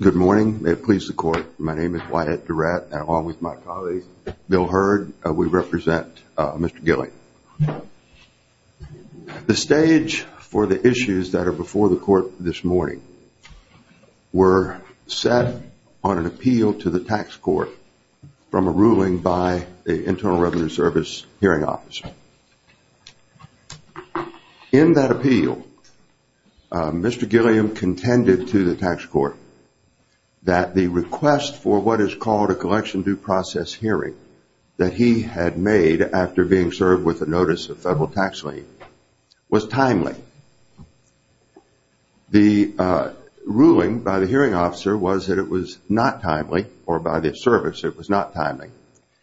Good morning. May it please the court. My name is Wyatt Durrett and along with my colleagues, Bill Hurd, we represent Mr. Gilliam. The stage for the issues that are before the court this morning were set on an appeal to the tax court from a ruling by the Internal Revenue Service Hearing Office. In that appeal, Mr. Gilliam contended to the tax court that the request for what is called a collection due process hearing that he had made after being served with a notice of federal tax lien was timely. The ruling by the hearing officer was that it was not timely or by the service it was not timely.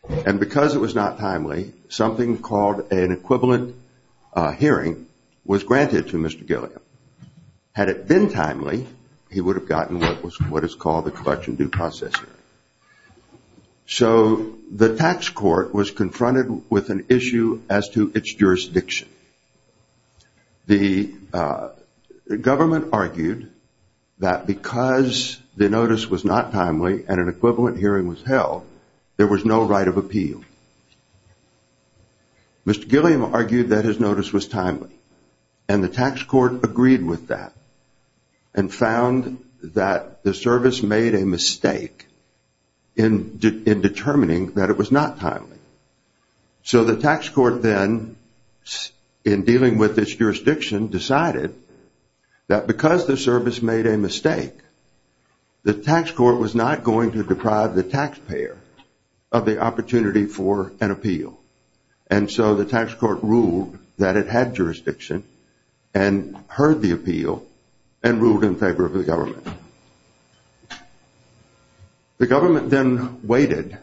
And because it was not timely, something called an equivalent hearing was granted to Mr. Gilliam. Had it been timely, he would have gotten what is called a collection due process hearing. So the tax court was confronted with an issue as to its jurisdiction. The government argued that because the notice was not timely and an equivalent hearing was held, there was no right of appeal. Mr. Gilliam argued that his notice was timely and the tax court agreed with that and found that the service made a mistake in determining that it was not timely. So the tax court then, in dealing with its jurisdiction, decided that because the service made a mistake, the tax court was not going to deprive the taxpayer of the opportunity for an appeal. And so the tax court ruled that it had jurisdiction and heard the appeal and ruled in favor of the government. The government then waited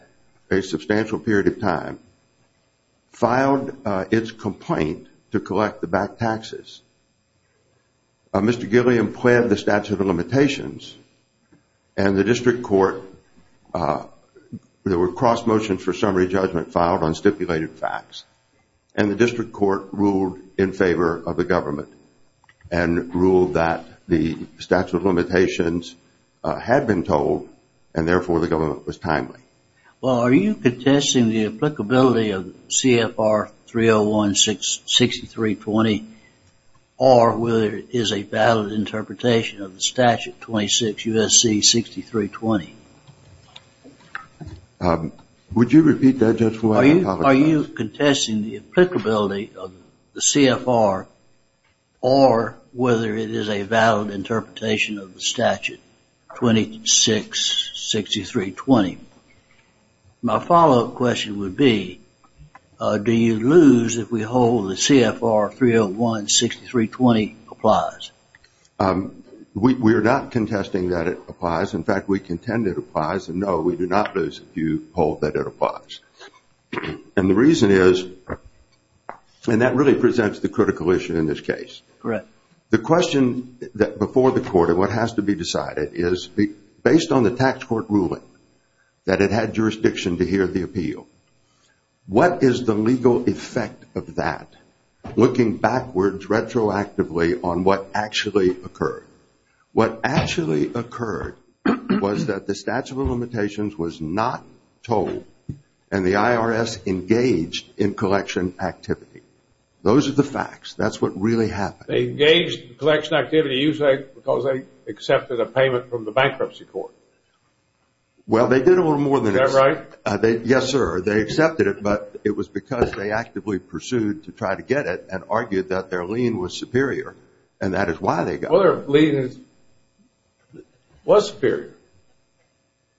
a substantial period of time, filed its complaint to collect the back taxes. Mr. Gilliam pled the statute of limitations and the district court, there were cross motions for summary judgment filed on stipulated facts. And the district court ruled in favor of the government and ruled that the statute of limitations had been told and therefore the government was timely. Well, are you contesting the applicability of CFR 301-6320 or whether it is a valid interpretation of the statute 26 U.S.C. 6320? Would you repeat that, Judge? Are you contesting the applicability of the CFR or whether it is a valid interpretation of the statute 26 U.S.C. 6320? My follow-up question would be, do you lose if we hold the CFR 301-6320 applies? We are not contesting that it applies. In fact, we contend it applies. And no, we do not lose if you hold that it applies. And the reason is, and that really presents the critical issue in this case. The question before the court and what has to be decided is, based on the tax court ruling that it had jurisdiction to hear the appeal, what is the legal effect of that looking backwards retroactively on what actually occurred? What actually occurred was that the statute of limitations was not told and the IRS engaged in collection activity. Those are the facts. That's what really happened. They engaged in collection activity usually because they accepted a payment from the bankruptcy court. Well, they did a little more than that. Is that right? Yes, sir. They accepted it, but it was because they actively pursued to try to get it and argued that their lien was superior. And that is why they got it. Well, their lien was superior.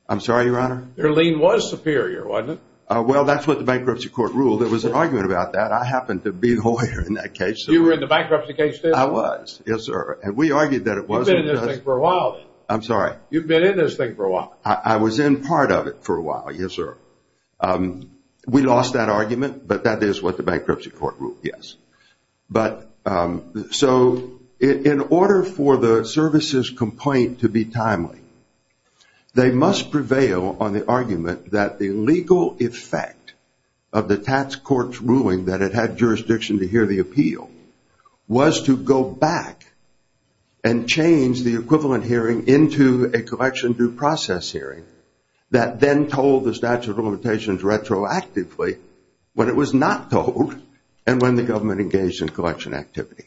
I'm sorry, Your Honor? Their lien was superior, wasn't it? Well, that's what the bankruptcy court ruled. There was an argument about that. I happened to be the lawyer in that case. You were in the bankruptcy case, too? I was, yes, sir. And we argued that it was. I'm sorry? You've been in this thing for a while. I was in part of it for a while, yes, sir. We lost that argument, but that is what the bankruptcy court ruled, yes. So in order for the services complaint to be timely, they must prevail on the argument that the legal effect of the tax court's ruling that it had jurisdiction to hear the appeal was to go back and change the equivalent hearing into a collection due process hearing that then told the statute of limitations retroactively when it was not told and when the government engaged in collection activity.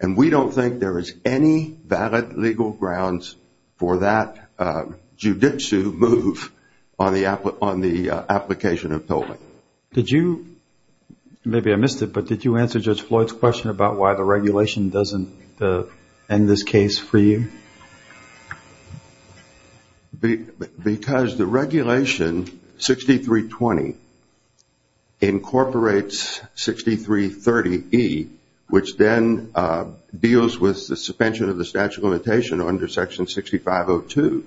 And we don't think there is any valid legal grounds for that jiu-jitsu move on the application of tolling. Maybe I missed it, but did you answer Judge Floyd's question about why the regulation doesn't end this case for you? Because the regulation 6320 incorporates 6330E, which then deals with the suspension of the statute of limitations under section 6502.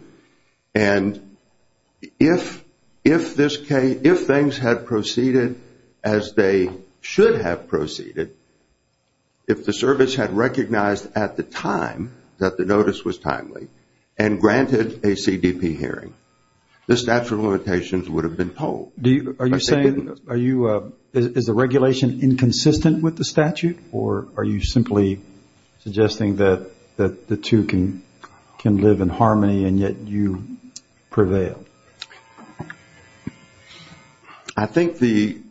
And if things had proceeded as they should have proceeded, if the service had recognized at the time that the notice was timely and granted a CDP hearing, the statute of limitations would have been tolled. Is the regulation inconsistent with the statute, or are you simply suggesting that the two can live in harmony and yet you prevail? I think the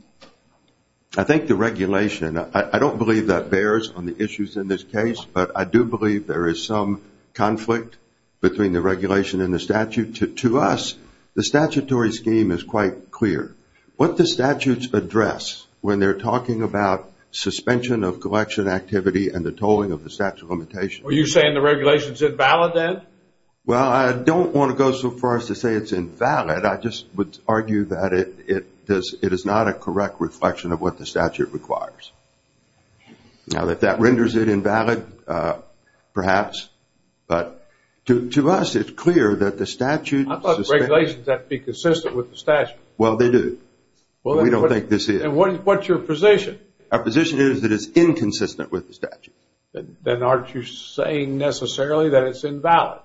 regulation, I don't believe that bears on the issues in this case, but I do believe there is some conflict between the regulation and the statute. To us, the statutory scheme is quite clear. What the statutes address when they're talking about suspension of collection activity and the tolling of the statute of limitations. Are you saying the regulation is invalid then? Well, I don't want to go so far as to say it's invalid. I just would argue that it is not a correct reflection of what the statute requires. Now, if that renders it invalid, perhaps. But to us, it's clear that the statute... How about regulations that be consistent with the statute? Well, they do. We don't think this is. And what's your position? Our position is that it's inconsistent with the statute. Then aren't you saying necessarily that it's invalid?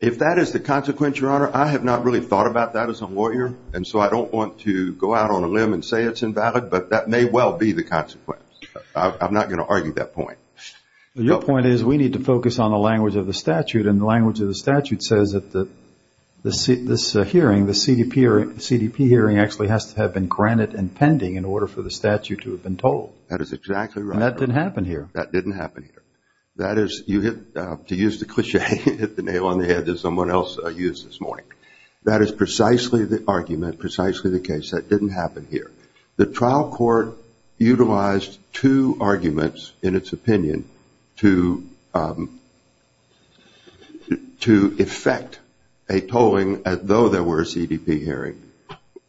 If that is the consequence, Your Honor, I have not really thought about that as a lawyer, and so I don't want to go out on a limb and say it's invalid, but that may well be the consequence. I'm not going to argue that point. Your point is we need to focus on the language of the statute, and the language of the statute says that this hearing, the CDP hearing, actually has to have been granted and pending in order for the statute to have been told. That is exactly right. And that didn't happen here. That didn't happen here. That is, to use the cliché, hit the nail on the head as someone else used this morning, that is precisely the argument, precisely the case. That didn't happen here. The trial court utilized two arguments in its opinion to effect a tolling, as though there were a CDP hearing,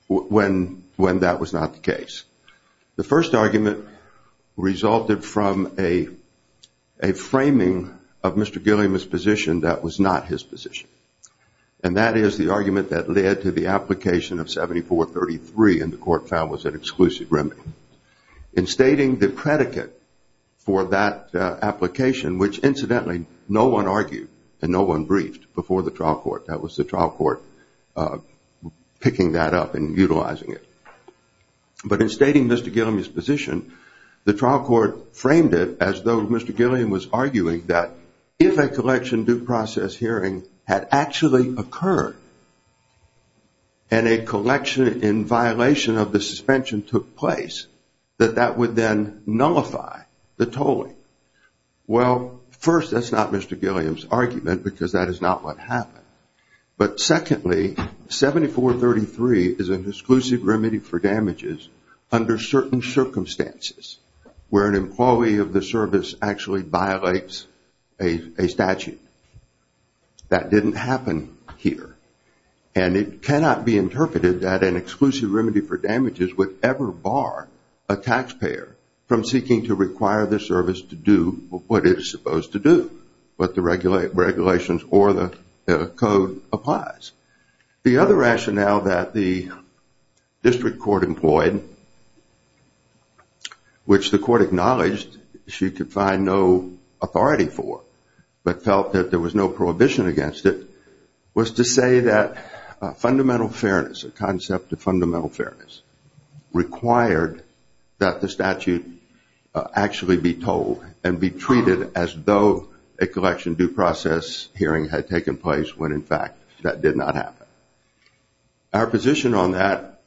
when that was not the case. The first argument resulted from a framing of Mr. Gilliam's position that was not his position, and that is the argument that led to the application of 7433, and the court found was an exclusive remedy. In stating the predicate for that application, which incidentally no one argued and no one briefed before the trial court, that was the trial court picking that up and utilizing it. But in stating Mr. Gilliam's position, the trial court framed it as though Mr. Gilliam was arguing that if a collection due process hearing had actually occurred, and a collection in violation of the suspension took place, that that would then nullify the tolling. Well, first, that's not Mr. Gilliam's argument because that is not what happened. But secondly, 7433 is an exclusive remedy for damages under certain circumstances, where an employee of the service actually violates a statute. That didn't happen here, and it cannot be interpreted that an exclusive remedy for damages would ever bar a taxpayer from seeking to require the service to do what it is supposed to do, what the regulations or the code applies. The other rationale that the district court employed, which the court acknowledged she could find no authority for, but felt that there was no prohibition against it, was to say that fundamental fairness, a concept of fundamental fairness, required that the statute actually be tolled and be treated as though a collection due process hearing had taken place when, in fact, that did not happen. Our position on that,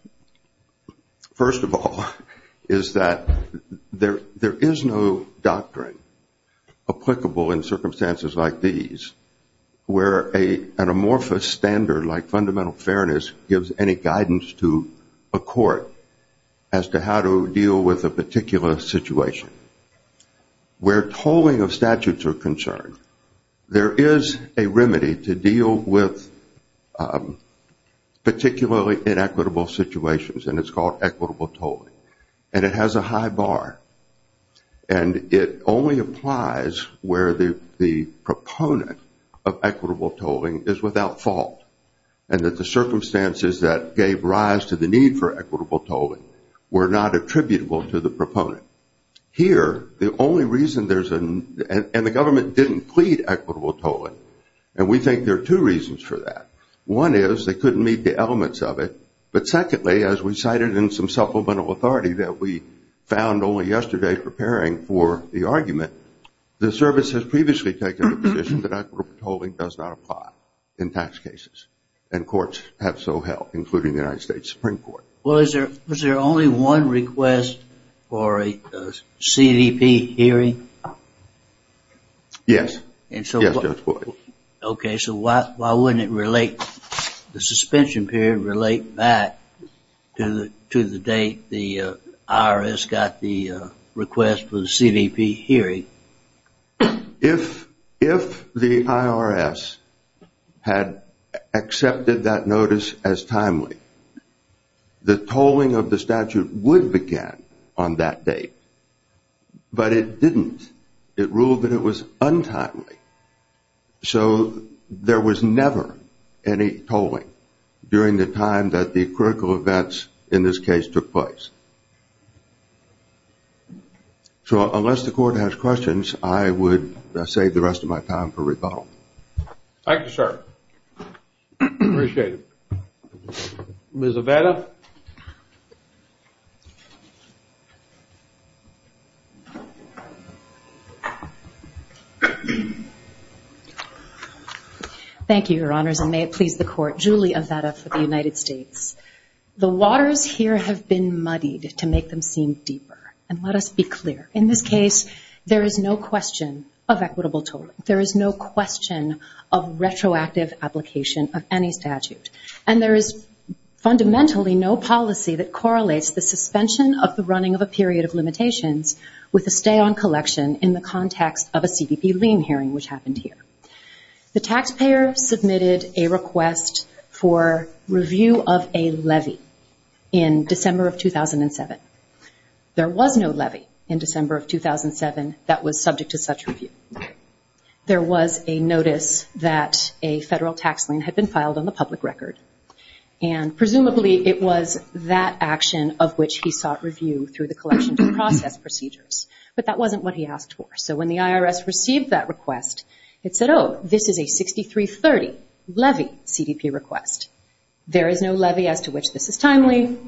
first of all, is that there is no doctrine applicable in circumstances like these where an amorphous standard like fundamental fairness gives any guidance to a court as to how to deal with a particular situation. Where tolling of statutes are concerned, there is a remedy to deal with particularly inequitable situations, and it's called equitable tolling, and it has a high bar. And it only applies where the proponent of equitable tolling is without fault, and that the circumstances that gave rise to the need for equitable tolling were not attributable to the proponent. And the government didn't plead equitable tolling, and we think there are two reasons for that. One is they couldn't meet the elements of it, but secondly, as we cited in some supplemental authority that we found only yesterday preparing for the argument, the service has previously taken the position that equitable tolling does not apply in tax cases, and courts have so held, including the United States Supreme Court. Well, is there only one request for a CDP hearing? Yes. Okay, so why wouldn't the suspension period relate back to the date the IRS got the request for the CDP hearing? If the IRS had accepted that notice as timely, the tolling of the statute would begin on that date, but it didn't. It ruled that it was untimely. So there was never any tolling during the time that the critical events in this case took place. So unless the court has questions, I would save the rest of my time for rebuttal. Thank you, sir. Appreciate it. Ms. Avetta. Thank you, Your Honors, and may it please the Court. Julie Avetta for the United States. The waters here have been muddied to make them seem deeper, and let us be clear. In this case, there is no question of equitable tolling. There is no question of retroactive application of any statute. There is fundamentally no policy that correlates the suspension of the running of a period of limitations with a stay-on collection in the context of a CDP lien hearing, which happened here. The taxpayer submitted a request for review of a levy in December of 2007. There was no levy in December of 2007 that was subject to such review. There was a notice that a federal tax lien had been filed on the public record, and presumably it was that action of which he sought review through the collection to process procedures. But that wasn't what he asked for. So when the IRS received that request, it said, oh, this is a 6330 levy CDP request. There is no levy as to which this is timely.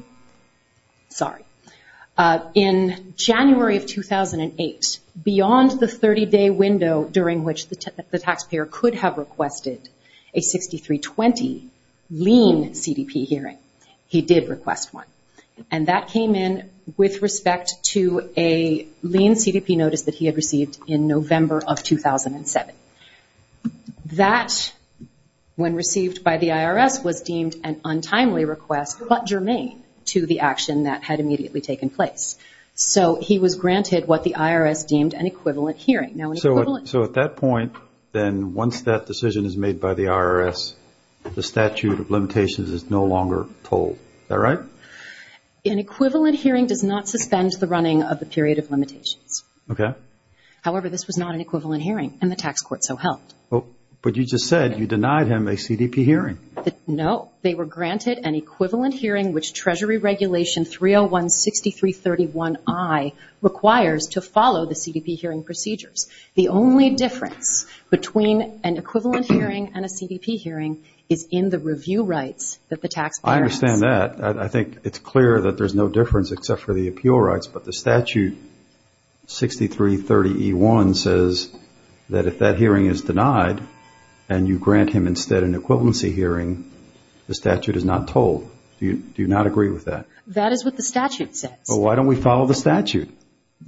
In January of 2008, beyond the 30-day window during which the taxpayer could have requested a 6320 lien CDP hearing, he did request one, and that came in with respect to a lien CDP notice that he had received in November of 2007. That, when received by the IRS, was deemed an untimely request, but germane. So he was granted what the IRS deemed an equivalent hearing. So at that point, then, once that decision is made by the IRS, the statute of limitations is no longer told. Is that right? An equivalent hearing does not suspend the running of the period of limitations. However, this was not an equivalent hearing, and the tax court so helped. Treasury regulation 3016331I requires to follow the CDP hearing procedures. The only difference between an equivalent hearing and a CDP hearing is in the review rights that the taxpayer has. I understand that. I think it's clear that there's no difference except for the appeal rights, but the statute 6330E1 says that if that hearing is denied and you grant him instead an equivalency hearing, the statute is not told. Do you not agree with that? That is what the statute says. Well, why don't we follow the statute?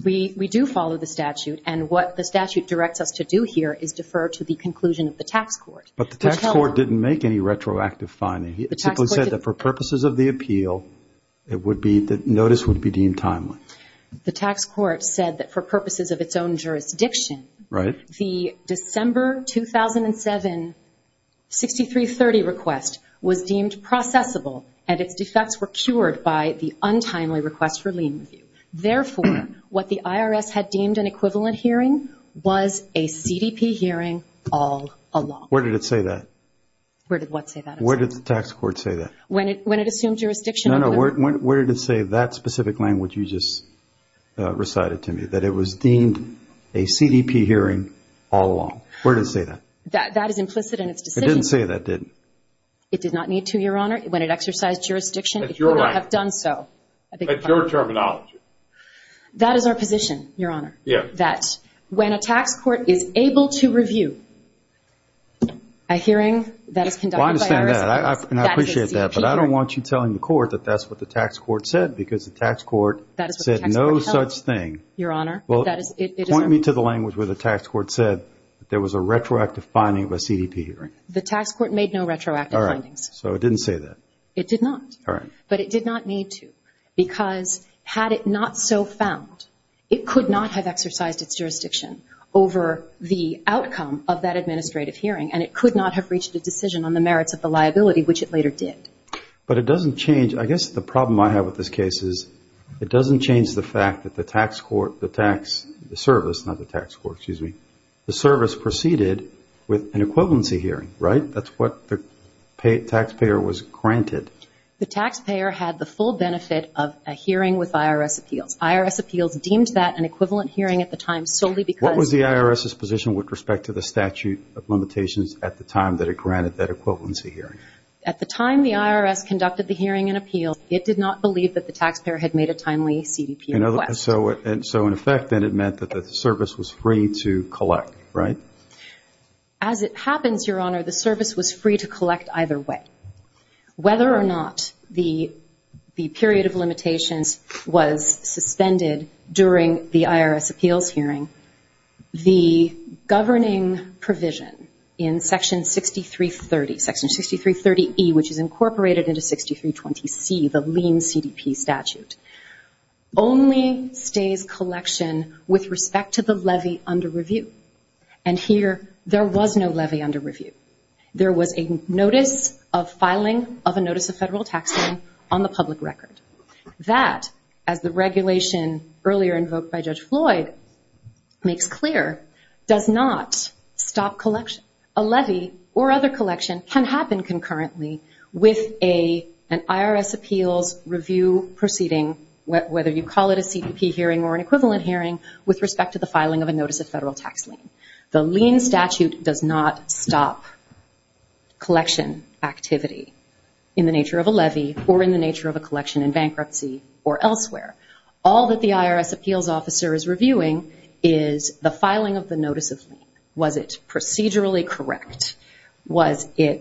We do follow the statute, and what the statute directs us to do here is defer to the conclusion of the tax court. But the tax court didn't make any retroactive findings. It simply said that for purposes of the appeal, the notice would be deemed timely. The tax court said that for purposes of its own jurisdiction, the December 2007 6330 request was deemed processable, and its defects were cured by the untimely request for lien review. Therefore, what the IRS had deemed an equivalent hearing was a CDP hearing all along. Where did it say that? Where did the tax court say that? No, no. Where did it say that specific language you just recited to me, that it was deemed a CDP hearing all along? Where did it say that? It didn't say that, did it? It did not need to, Your Honor. When it exercised jurisdiction, it would not have done so. That's your terminology. That is our position, Your Honor, that when a tax court is able to review a hearing that is conducted by IRS employees, that is a CDP hearing. Well, I understand that, and I appreciate that, but I don't want you telling the court that that's what the tax court said, because the tax court said no such thing. Point me to the language where the tax court said there was a retroactive finding of a CDP hearing. The tax court made no retroactive findings. It did not, but it did not need to, because had it not so found, it could not have exercised its jurisdiction over the outcome of that administrative hearing, and it could not have reached a decision on the merits of the liability, which it later did. But it doesn't change, I guess the problem I have with this case is it doesn't change the fact that the tax court, the tax service, not the tax court, excuse me, the service proceeded with an equivalency hearing, right? That's what the taxpayer was granted. The taxpayer had the full benefit of a hearing with IRS appeals. IRS appeals deemed that an equivalent hearing at the time solely because... What was the IRS's position with respect to the statute of limitations at the time that it granted that equivalency hearing? At the time the IRS conducted the hearing and appeals, it did not believe that the taxpayer had made a timely CDP request. So in effect, then, it meant that the service was free to collect, right? As it happens, Your Honor, the service was free to collect either way. Whether or not the period of limitations was suspended during the IRS appeals hearing, the governing provision in Section 6330, Section 6330E, which is incorporated into 6320C, the lien CDP statute, only stays collection with respect to the levy under review. And here, there was no levy under review. There was a notice of filing of a notice of federal tax lien on the public record. That, as the regulation earlier invoked by Judge Floyd makes clear, does not stop collection. A levy or other collection can happen concurrently with an IRS appeals review proceeding, whether you call it a CDP hearing or an equivalent hearing, with respect to the filing of a notice of federal tax lien. The lien statute does not stop collection activity in the nature of a levy or in the nature of a collection in bankruptcy or elsewhere. All that the IRS appeals officer is reviewing is the filing of the notice of lien. Was it procedurally correct? There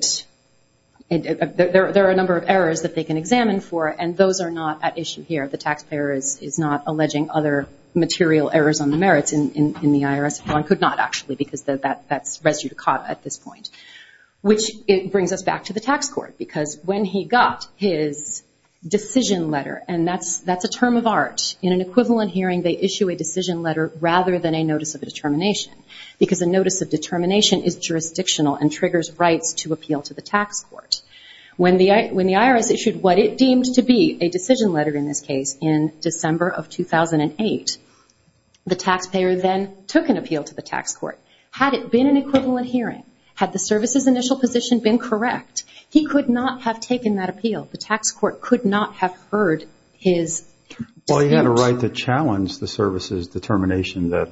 are a number of errors that they can examine for, and those are not at issue here. The taxpayer is not alleging other material errors on the merits in the IRS. One could not, actually, because that's res judicata at this point. Which brings us back to the tax court, because when he got his decision letter, and that's a term of art. In an equivalent hearing, they issue a decision letter rather than a notice of determination, because a notice of determination is jurisdictional and triggers rights to appeal to the tax court. When the IRS issued what it deemed to be a decision letter, in this case, in December of 2008, the taxpayer then took an appeal to the tax court. Had it been an equivalent hearing, had the service's initial position been correct, he could not have taken that appeal. The tax court could not have heard his suit. Well, he had a right to challenge the service's determination that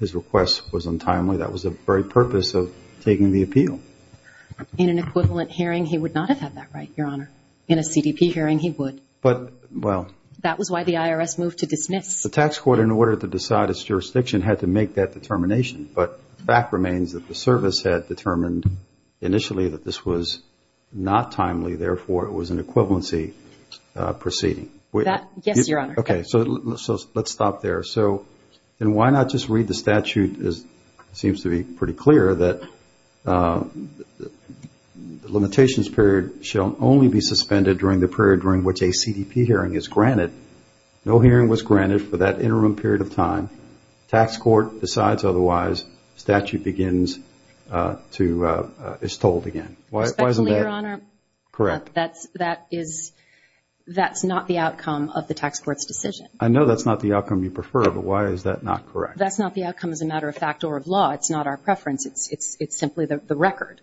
his request was untimely. That was the very purpose of taking the appeal. In an equivalent hearing, he would not have had that right, Your Honor. In a CDP hearing, he would. That was why the IRS moved to dismiss. The tax court, in order to decide its jurisdiction, had to make that determination. But the fact remains that the service had determined initially that this was not timely. Therefore, it was an equivalency proceeding. Let's stop there. Why not just read the statute? It seems to be pretty clear that the limitations period shall only be suspended during the period during which a CDP hearing is granted. No hearing was granted for that interim period of time. Tax court decides otherwise. Statute begins to be told again. Respectfully, Your Honor, that's not the outcome of the tax court's decision. I know that's not the outcome you prefer, but why is that not correct? That's not the outcome, as a matter of fact, or of law. It's not our preference. It's simply the record.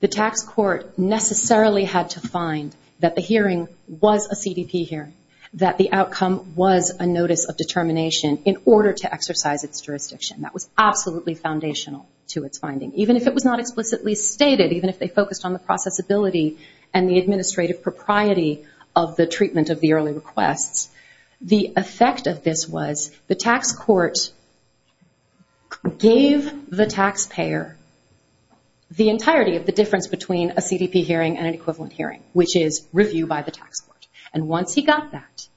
The tax court necessarily had to find that the hearing was a CDP hearing, that the outcome was a notice of determination in order to exercise its jurisdiction. That was absolutely foundational to its finding, even if it was not explicitly stated, even if they focused on the processability and the administrative propriety of the treatment of the early requests. The effect of this was the tax court gave the taxpayer the entirety of the difference between a CDP hearing and an equivalent hearing, which is review by the tax court. And once he got that,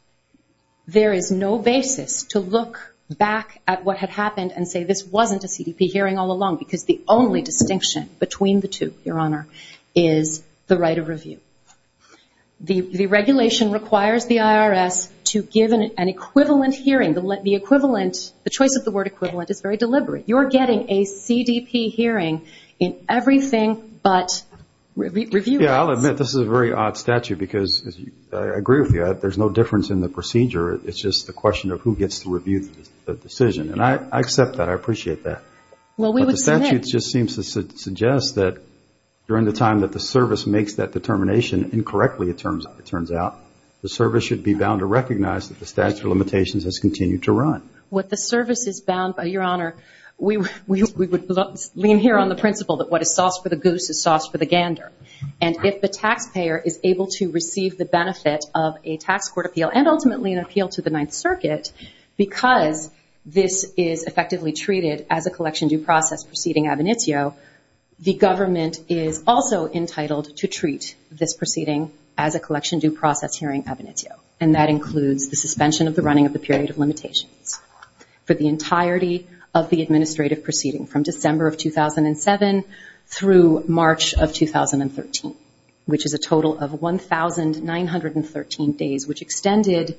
there is no basis to look back at what had happened and say this wasn't a CDP hearing all along, because the only distinction between the two, Your Honor, is the right of review. The regulation requires the IRS to give an equivalent hearing. The choice of the word equivalent is very deliberate. You're getting a CDP hearing in everything but review rights. Yeah, I'll admit this is a very odd statute, because I agree with you. There's no difference in the procedure. It's just a question of who gets to review the decision. And I accept that. I appreciate that. But the statute just seems to suggest that during the time that the service makes that determination incorrectly, it turns out, the service should be bound to recognize that the statute of limitations has continued to run. What the service is bound by, Your Honor, we would lean here on the principle that what is sauce for the goose is sauce for the gander. And if the taxpayer is able to receive the benefit of a tax court appeal, and ultimately an appeal to the Ninth Circuit, because this is effectively treated as a collection due process proceeding ab initio, the government is also entitled to treat this proceeding as a collection due process hearing ab initio, and that includes the suspension of the running of the period of limitations for the entirety of the administrative proceeding, from December of 2007 through March of 2013, which is a total of 1,913 days, which extended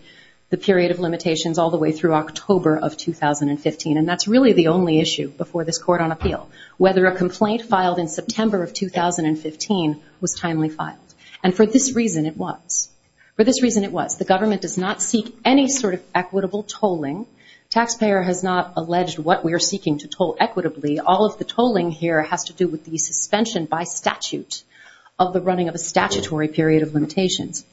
the period of limitations all the way through October of 2015. And that's really the only issue before this court on appeal, whether a complaint filed in September of 2015 was timely filed. And for this reason it was. For this reason it was. The government does not seek any sort of equitable tolling. Taxpayer has not alleged what we are seeking to toll equitably. All of the tolling here has to do with the suspension by statute of the running of a statutory period of limitations.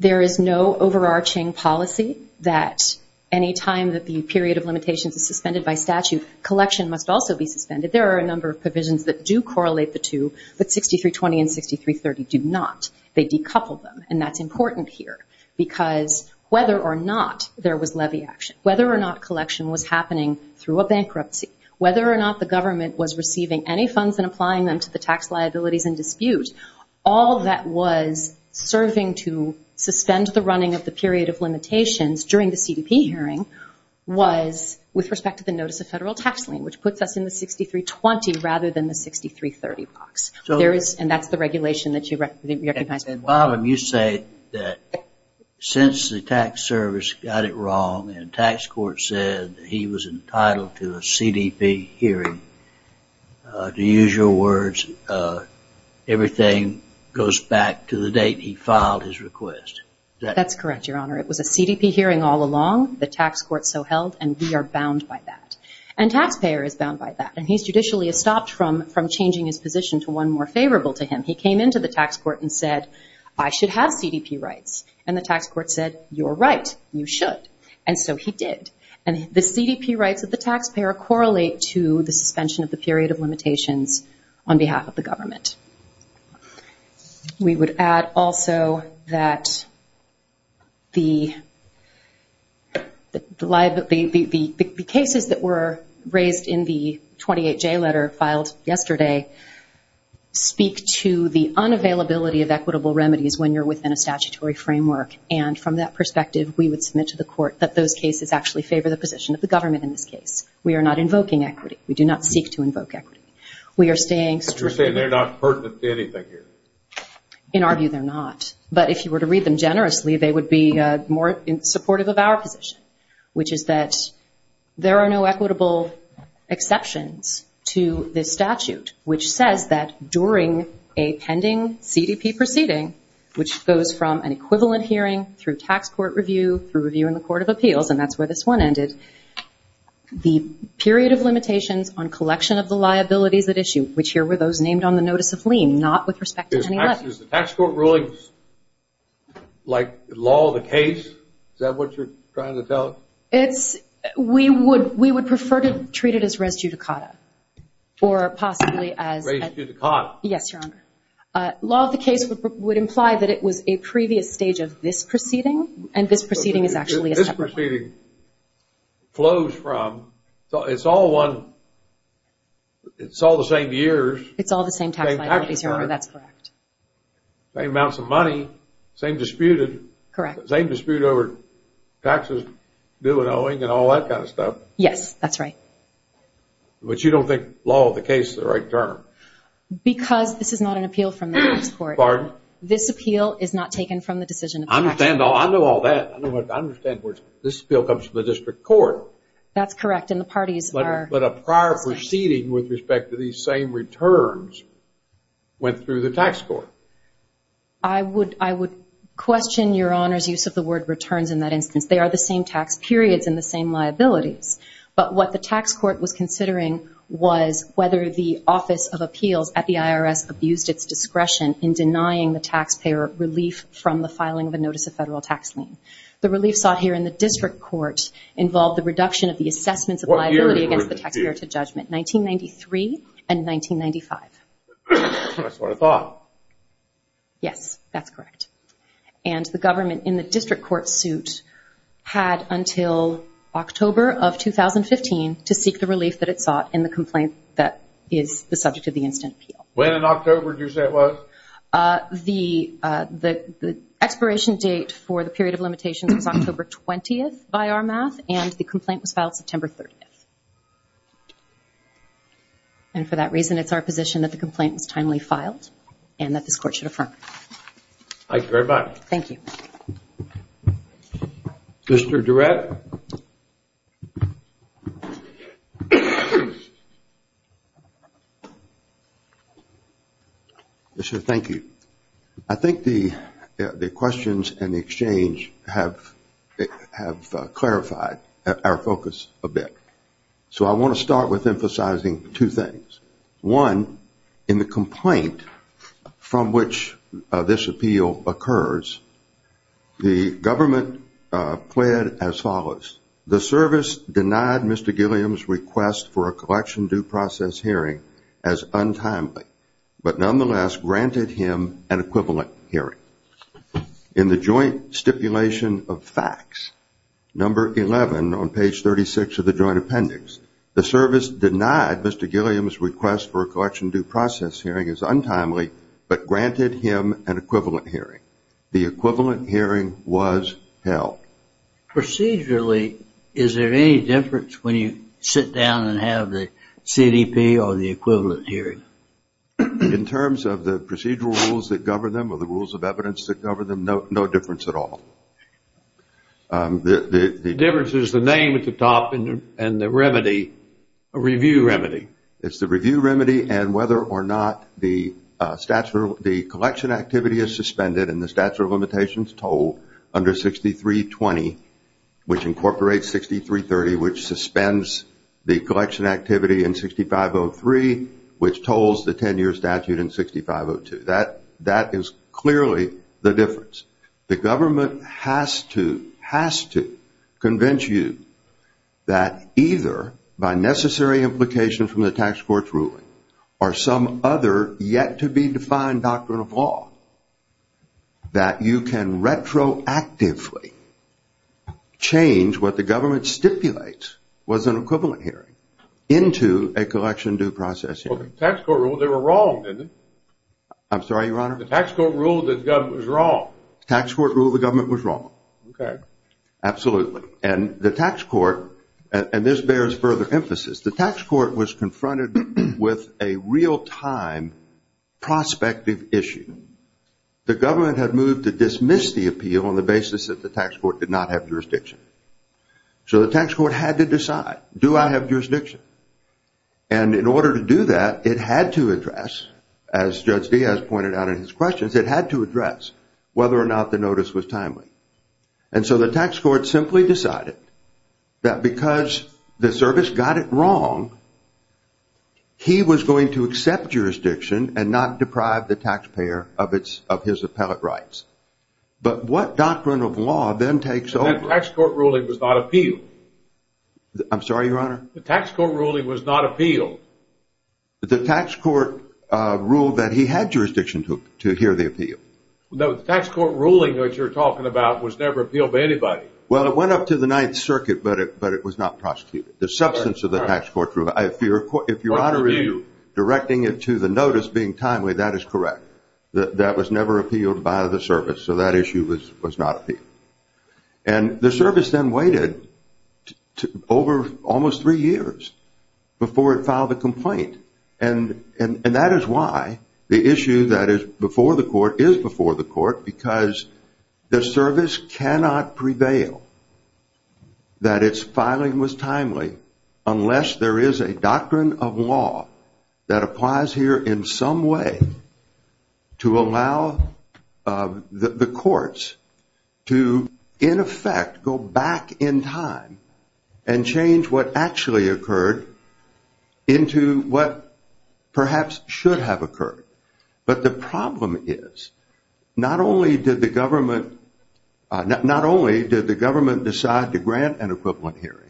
There is no overarching policy that any time that the period of limitations is suspended by statute, collection must also be suspended. There are a number of provisions that do correlate the two, but 6320 and 6330 do not. They decouple them, and that's important here, because whether or not there was levy action, whether or not collection was happening through a bankruptcy, whether or not the government was receiving any funds and applying them to the tax liabilities in dispute, all that was serving to suspend the running of the period of limitations during the CDP hearing was with respect to the notice of federal tax lien, which puts us in the 6320 rather than the 6330 box. And that's the regulation that you recognize. And, Bobham, you say that since the tax service got it wrong and tax court said he was entitled to a CDP hearing, to use your words, everything goes back to the date he filed his request. That's correct, Your Honor. It was a CDP hearing all along. The tax court so held, and we are bound by that. And taxpayer is bound by that, and he's judicially stopped from changing his position to one more favorable to him. He came into the tax court and said, I should have CDP rights. And the tax court said, you're right, you should. And so he did. And the CDP rights of the taxpayer correlate to the suspension of the period of limitations on behalf of the government. We would add also that the cases that were raised in the 28J letter filed yesterday speak to the unavailability of equitable remedies when you're within a statutory framework. And from that perspective, we would submit to the court that those cases actually favor the position of the government in this case. We are not invoking equity. We do not seek to invoke equity. In our view, they're not. But if you were to read them generously, they would be more supportive of our position, which is that there are no equitable exceptions to this statute, which says that during a pending CDP proceeding, which goes from an equivalent hearing through tax court review, through review in the Court of Appeals, and that's where this one ended, the period of limitations on collection of the liabilities at issue, which here were those named on the notice of lien, not with respect to any levy. Is the tax court ruling like law of the case? Is that what you're trying to tell us? We would prefer to treat it as res judicata. Res judicata? Yes, Your Honor. Law of the case would imply that it was a previous stage of this proceeding, and this proceeding is actually a separate one. This proceeding flows from, it's all the same years. It's all the same tax liabilities, Your Honor. That's correct. Same amounts of money, same dispute over taxes, due and owing, and all that kind of stuff. Yes, that's right. But you don't think law of the case is the right term? Because this is not an appeal from the tax court. Pardon? This appeal is not taken from the decision of the tax court. But what the tax court was considering was whether the Office of Appeals at the IRS abused its discretion in denying the taxpayer relief from the filing of a notice of federal tax lien. The relief sought here in the district court involved the reduction of the assessments of liability against the taxpayer to judgment, 1993 and 1995. That's what I thought. Yes, that's correct. And the government in the district court suit had until October of 2015 to seek the relief that it sought in the complaint that is the subject of the instant appeal. When in October did you say it was? The expiration date for the period of limitations was October 20th by our math, and the complaint was filed September 30th. And for that reason, it's our position that the complaint was timely filed and that this court should affirm. Thank you very much. Mr. Durrett? Yes, sir, thank you. I think the questions and the exchange have clarified our focus a bit. So I want to start with emphasizing two things. One, in the complaint from which this appeal occurs, the government pled as follows. The service denied Mr. Gilliam's request for a collection due process hearing as untimely, but nonetheless granted him an equivalent hearing. In the joint stipulation of facts, number 11 on page 36 of the joint appendix, the service denied Mr. Gilliam's request for a collection due process hearing as untimely, but granted him an equivalent hearing. The equivalent hearing was held. Procedurally, is there any difference when you sit down and have the CDP or the equivalent hearing? In terms of the procedural rules that govern them or the rules of evidence that govern them, no difference at all. The difference is the name at the top and the remedy, a review remedy. It's the review remedy and whether or not the collection activity is suspended and the statute of limitations told under 6320, which incorporates 6330, which suspends the collection activity in 6503, which tolls the 10-year statute in 6502. That is clearly the difference. The government has to convince you that either by necessary implication from the tax court's ruling or some other yet-to-be-defined doctrine of law that you can retroactively change what the government stipulates was an equivalent hearing into a collection due process hearing. Well, the tax court ruled they were wrong, didn't it? I'm sorry, Your Honor? The tax court ruled that the government was wrong. Tax court ruled the government was wrong. Absolutely. And the tax court, and this bears further emphasis, the tax court was confronted with a real-time prospective issue. The government had moved to dismiss the appeal on the basis that the tax court did not have jurisdiction. So the tax court had to decide, do I have jurisdiction? And in order to do that, it had to address, as Judge Diaz pointed out in his questions, it had to address whether or not the notice was timely. And so the tax court simply decided that because the service got it wrong, he was going to accept jurisdiction and not deprive the taxpayer of his appellate rights. But what doctrine of law then takes over? The tax court ruling was not appealed. The tax court ruled that he had jurisdiction to hear the appeal. The tax court ruling that you're talking about was never appealed by anybody. Well, it went up to the Ninth Circuit, but it was not prosecuted. The substance of the tax court ruling, if you're out of review, directing it to the notice being timely, that is correct. That was never appealed by the service. So that issue was not appealed. And the service then waited over almost three years before it filed a complaint. And that is why the issue that is before the court is before the court, because the service cannot prevail that its filing was timely unless there is a doctrine of law that applies here in some way to allow the courts to, in effect, go back in time and change what actually occurred into what perhaps should have occurred. But the problem is, not only did the government decide to grant an equivalent hearing,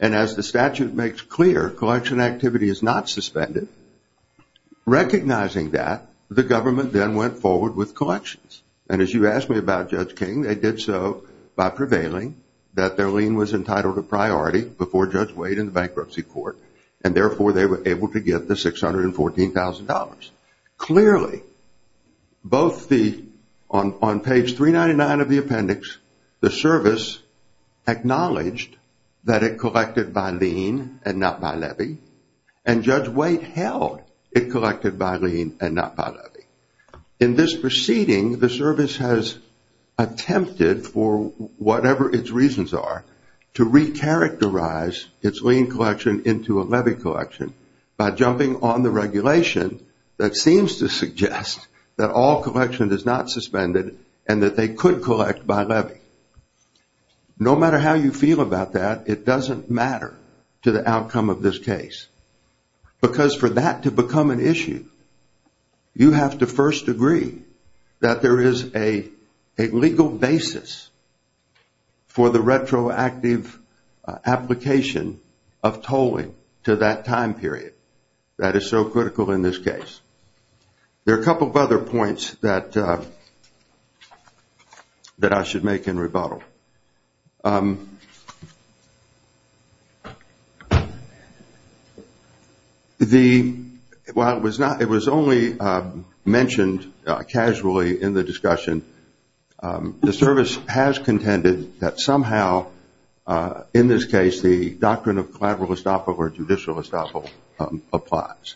and as the statute makes clear, collection activity is not suspended. Recognizing that, the government then went forward with collections. And as you asked me about Judge King, they did so by prevailing that their lien was entitled to priority before Judge Wade in the bankruptcy court, and therefore they were able to get the $614,000. Clearly, both the, on page 399 of the appendix, the service acknowledged that it collected by lien and not by levy, and Judge Wade held it collected by lien and not by levy. In this proceeding, the service has attempted, for whatever its reasons are, to recharacterize its lien collection into a levy collection by jumping on the regulation that seems to suggest that all collection is not suspended and that they could collect by levy. No matter how you feel about that, it doesn't matter to the outcome of this case. Because for that to become an issue, you have to first agree that there is a legal basis for the retroactive application of tolling to that time period. That is so critical in this case. There are a couple of other points that I should make in rebuttal. While it was only mentioned casually in the discussion, the service has contended that somehow, in this case, the doctrine of collateral estoppel or judicial estoppel applies.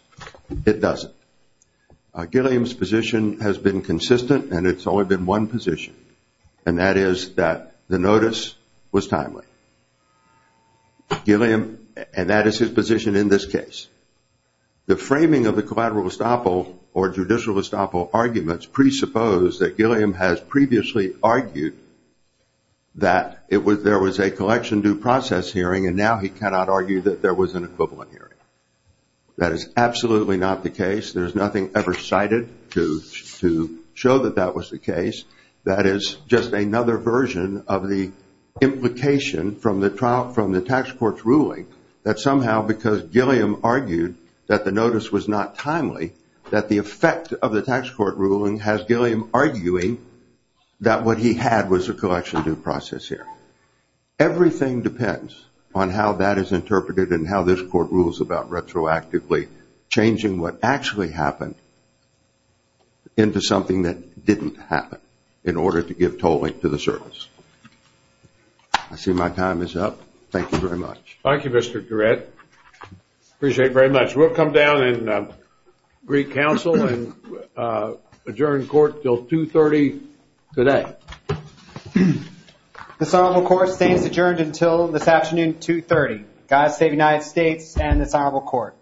It doesn't. Gilliam's position has been consistent, and it's only been one position, and that is that the notice was timely. And that is his position in this case. The framing of the collateral estoppel or judicial estoppel arguments presuppose that Gilliam has previously argued that there was a collection due process hearing, and now he cannot argue that there was an equivalent hearing. That is absolutely not the case. There is nothing ever cited to show that that was the case. That is just another version of the implication from the tax court's ruling that somehow, because Gilliam argued that the notice was not timely, that the effect of the tax court ruling has Gilliam arguing that what he had was a collection due process hearing. Everything depends on how that is interpreted and how this court rules about retroactively changing what actually happened into something that didn't happen in order to give tolling to the service. I see my time is up. Thank you very much. Thank you, Mr. Garrett. Appreciate it very much. We'll come down and re-counsel and adjourn court until 2.30 today. This honorable court stays adjourned until this afternoon, 2.30.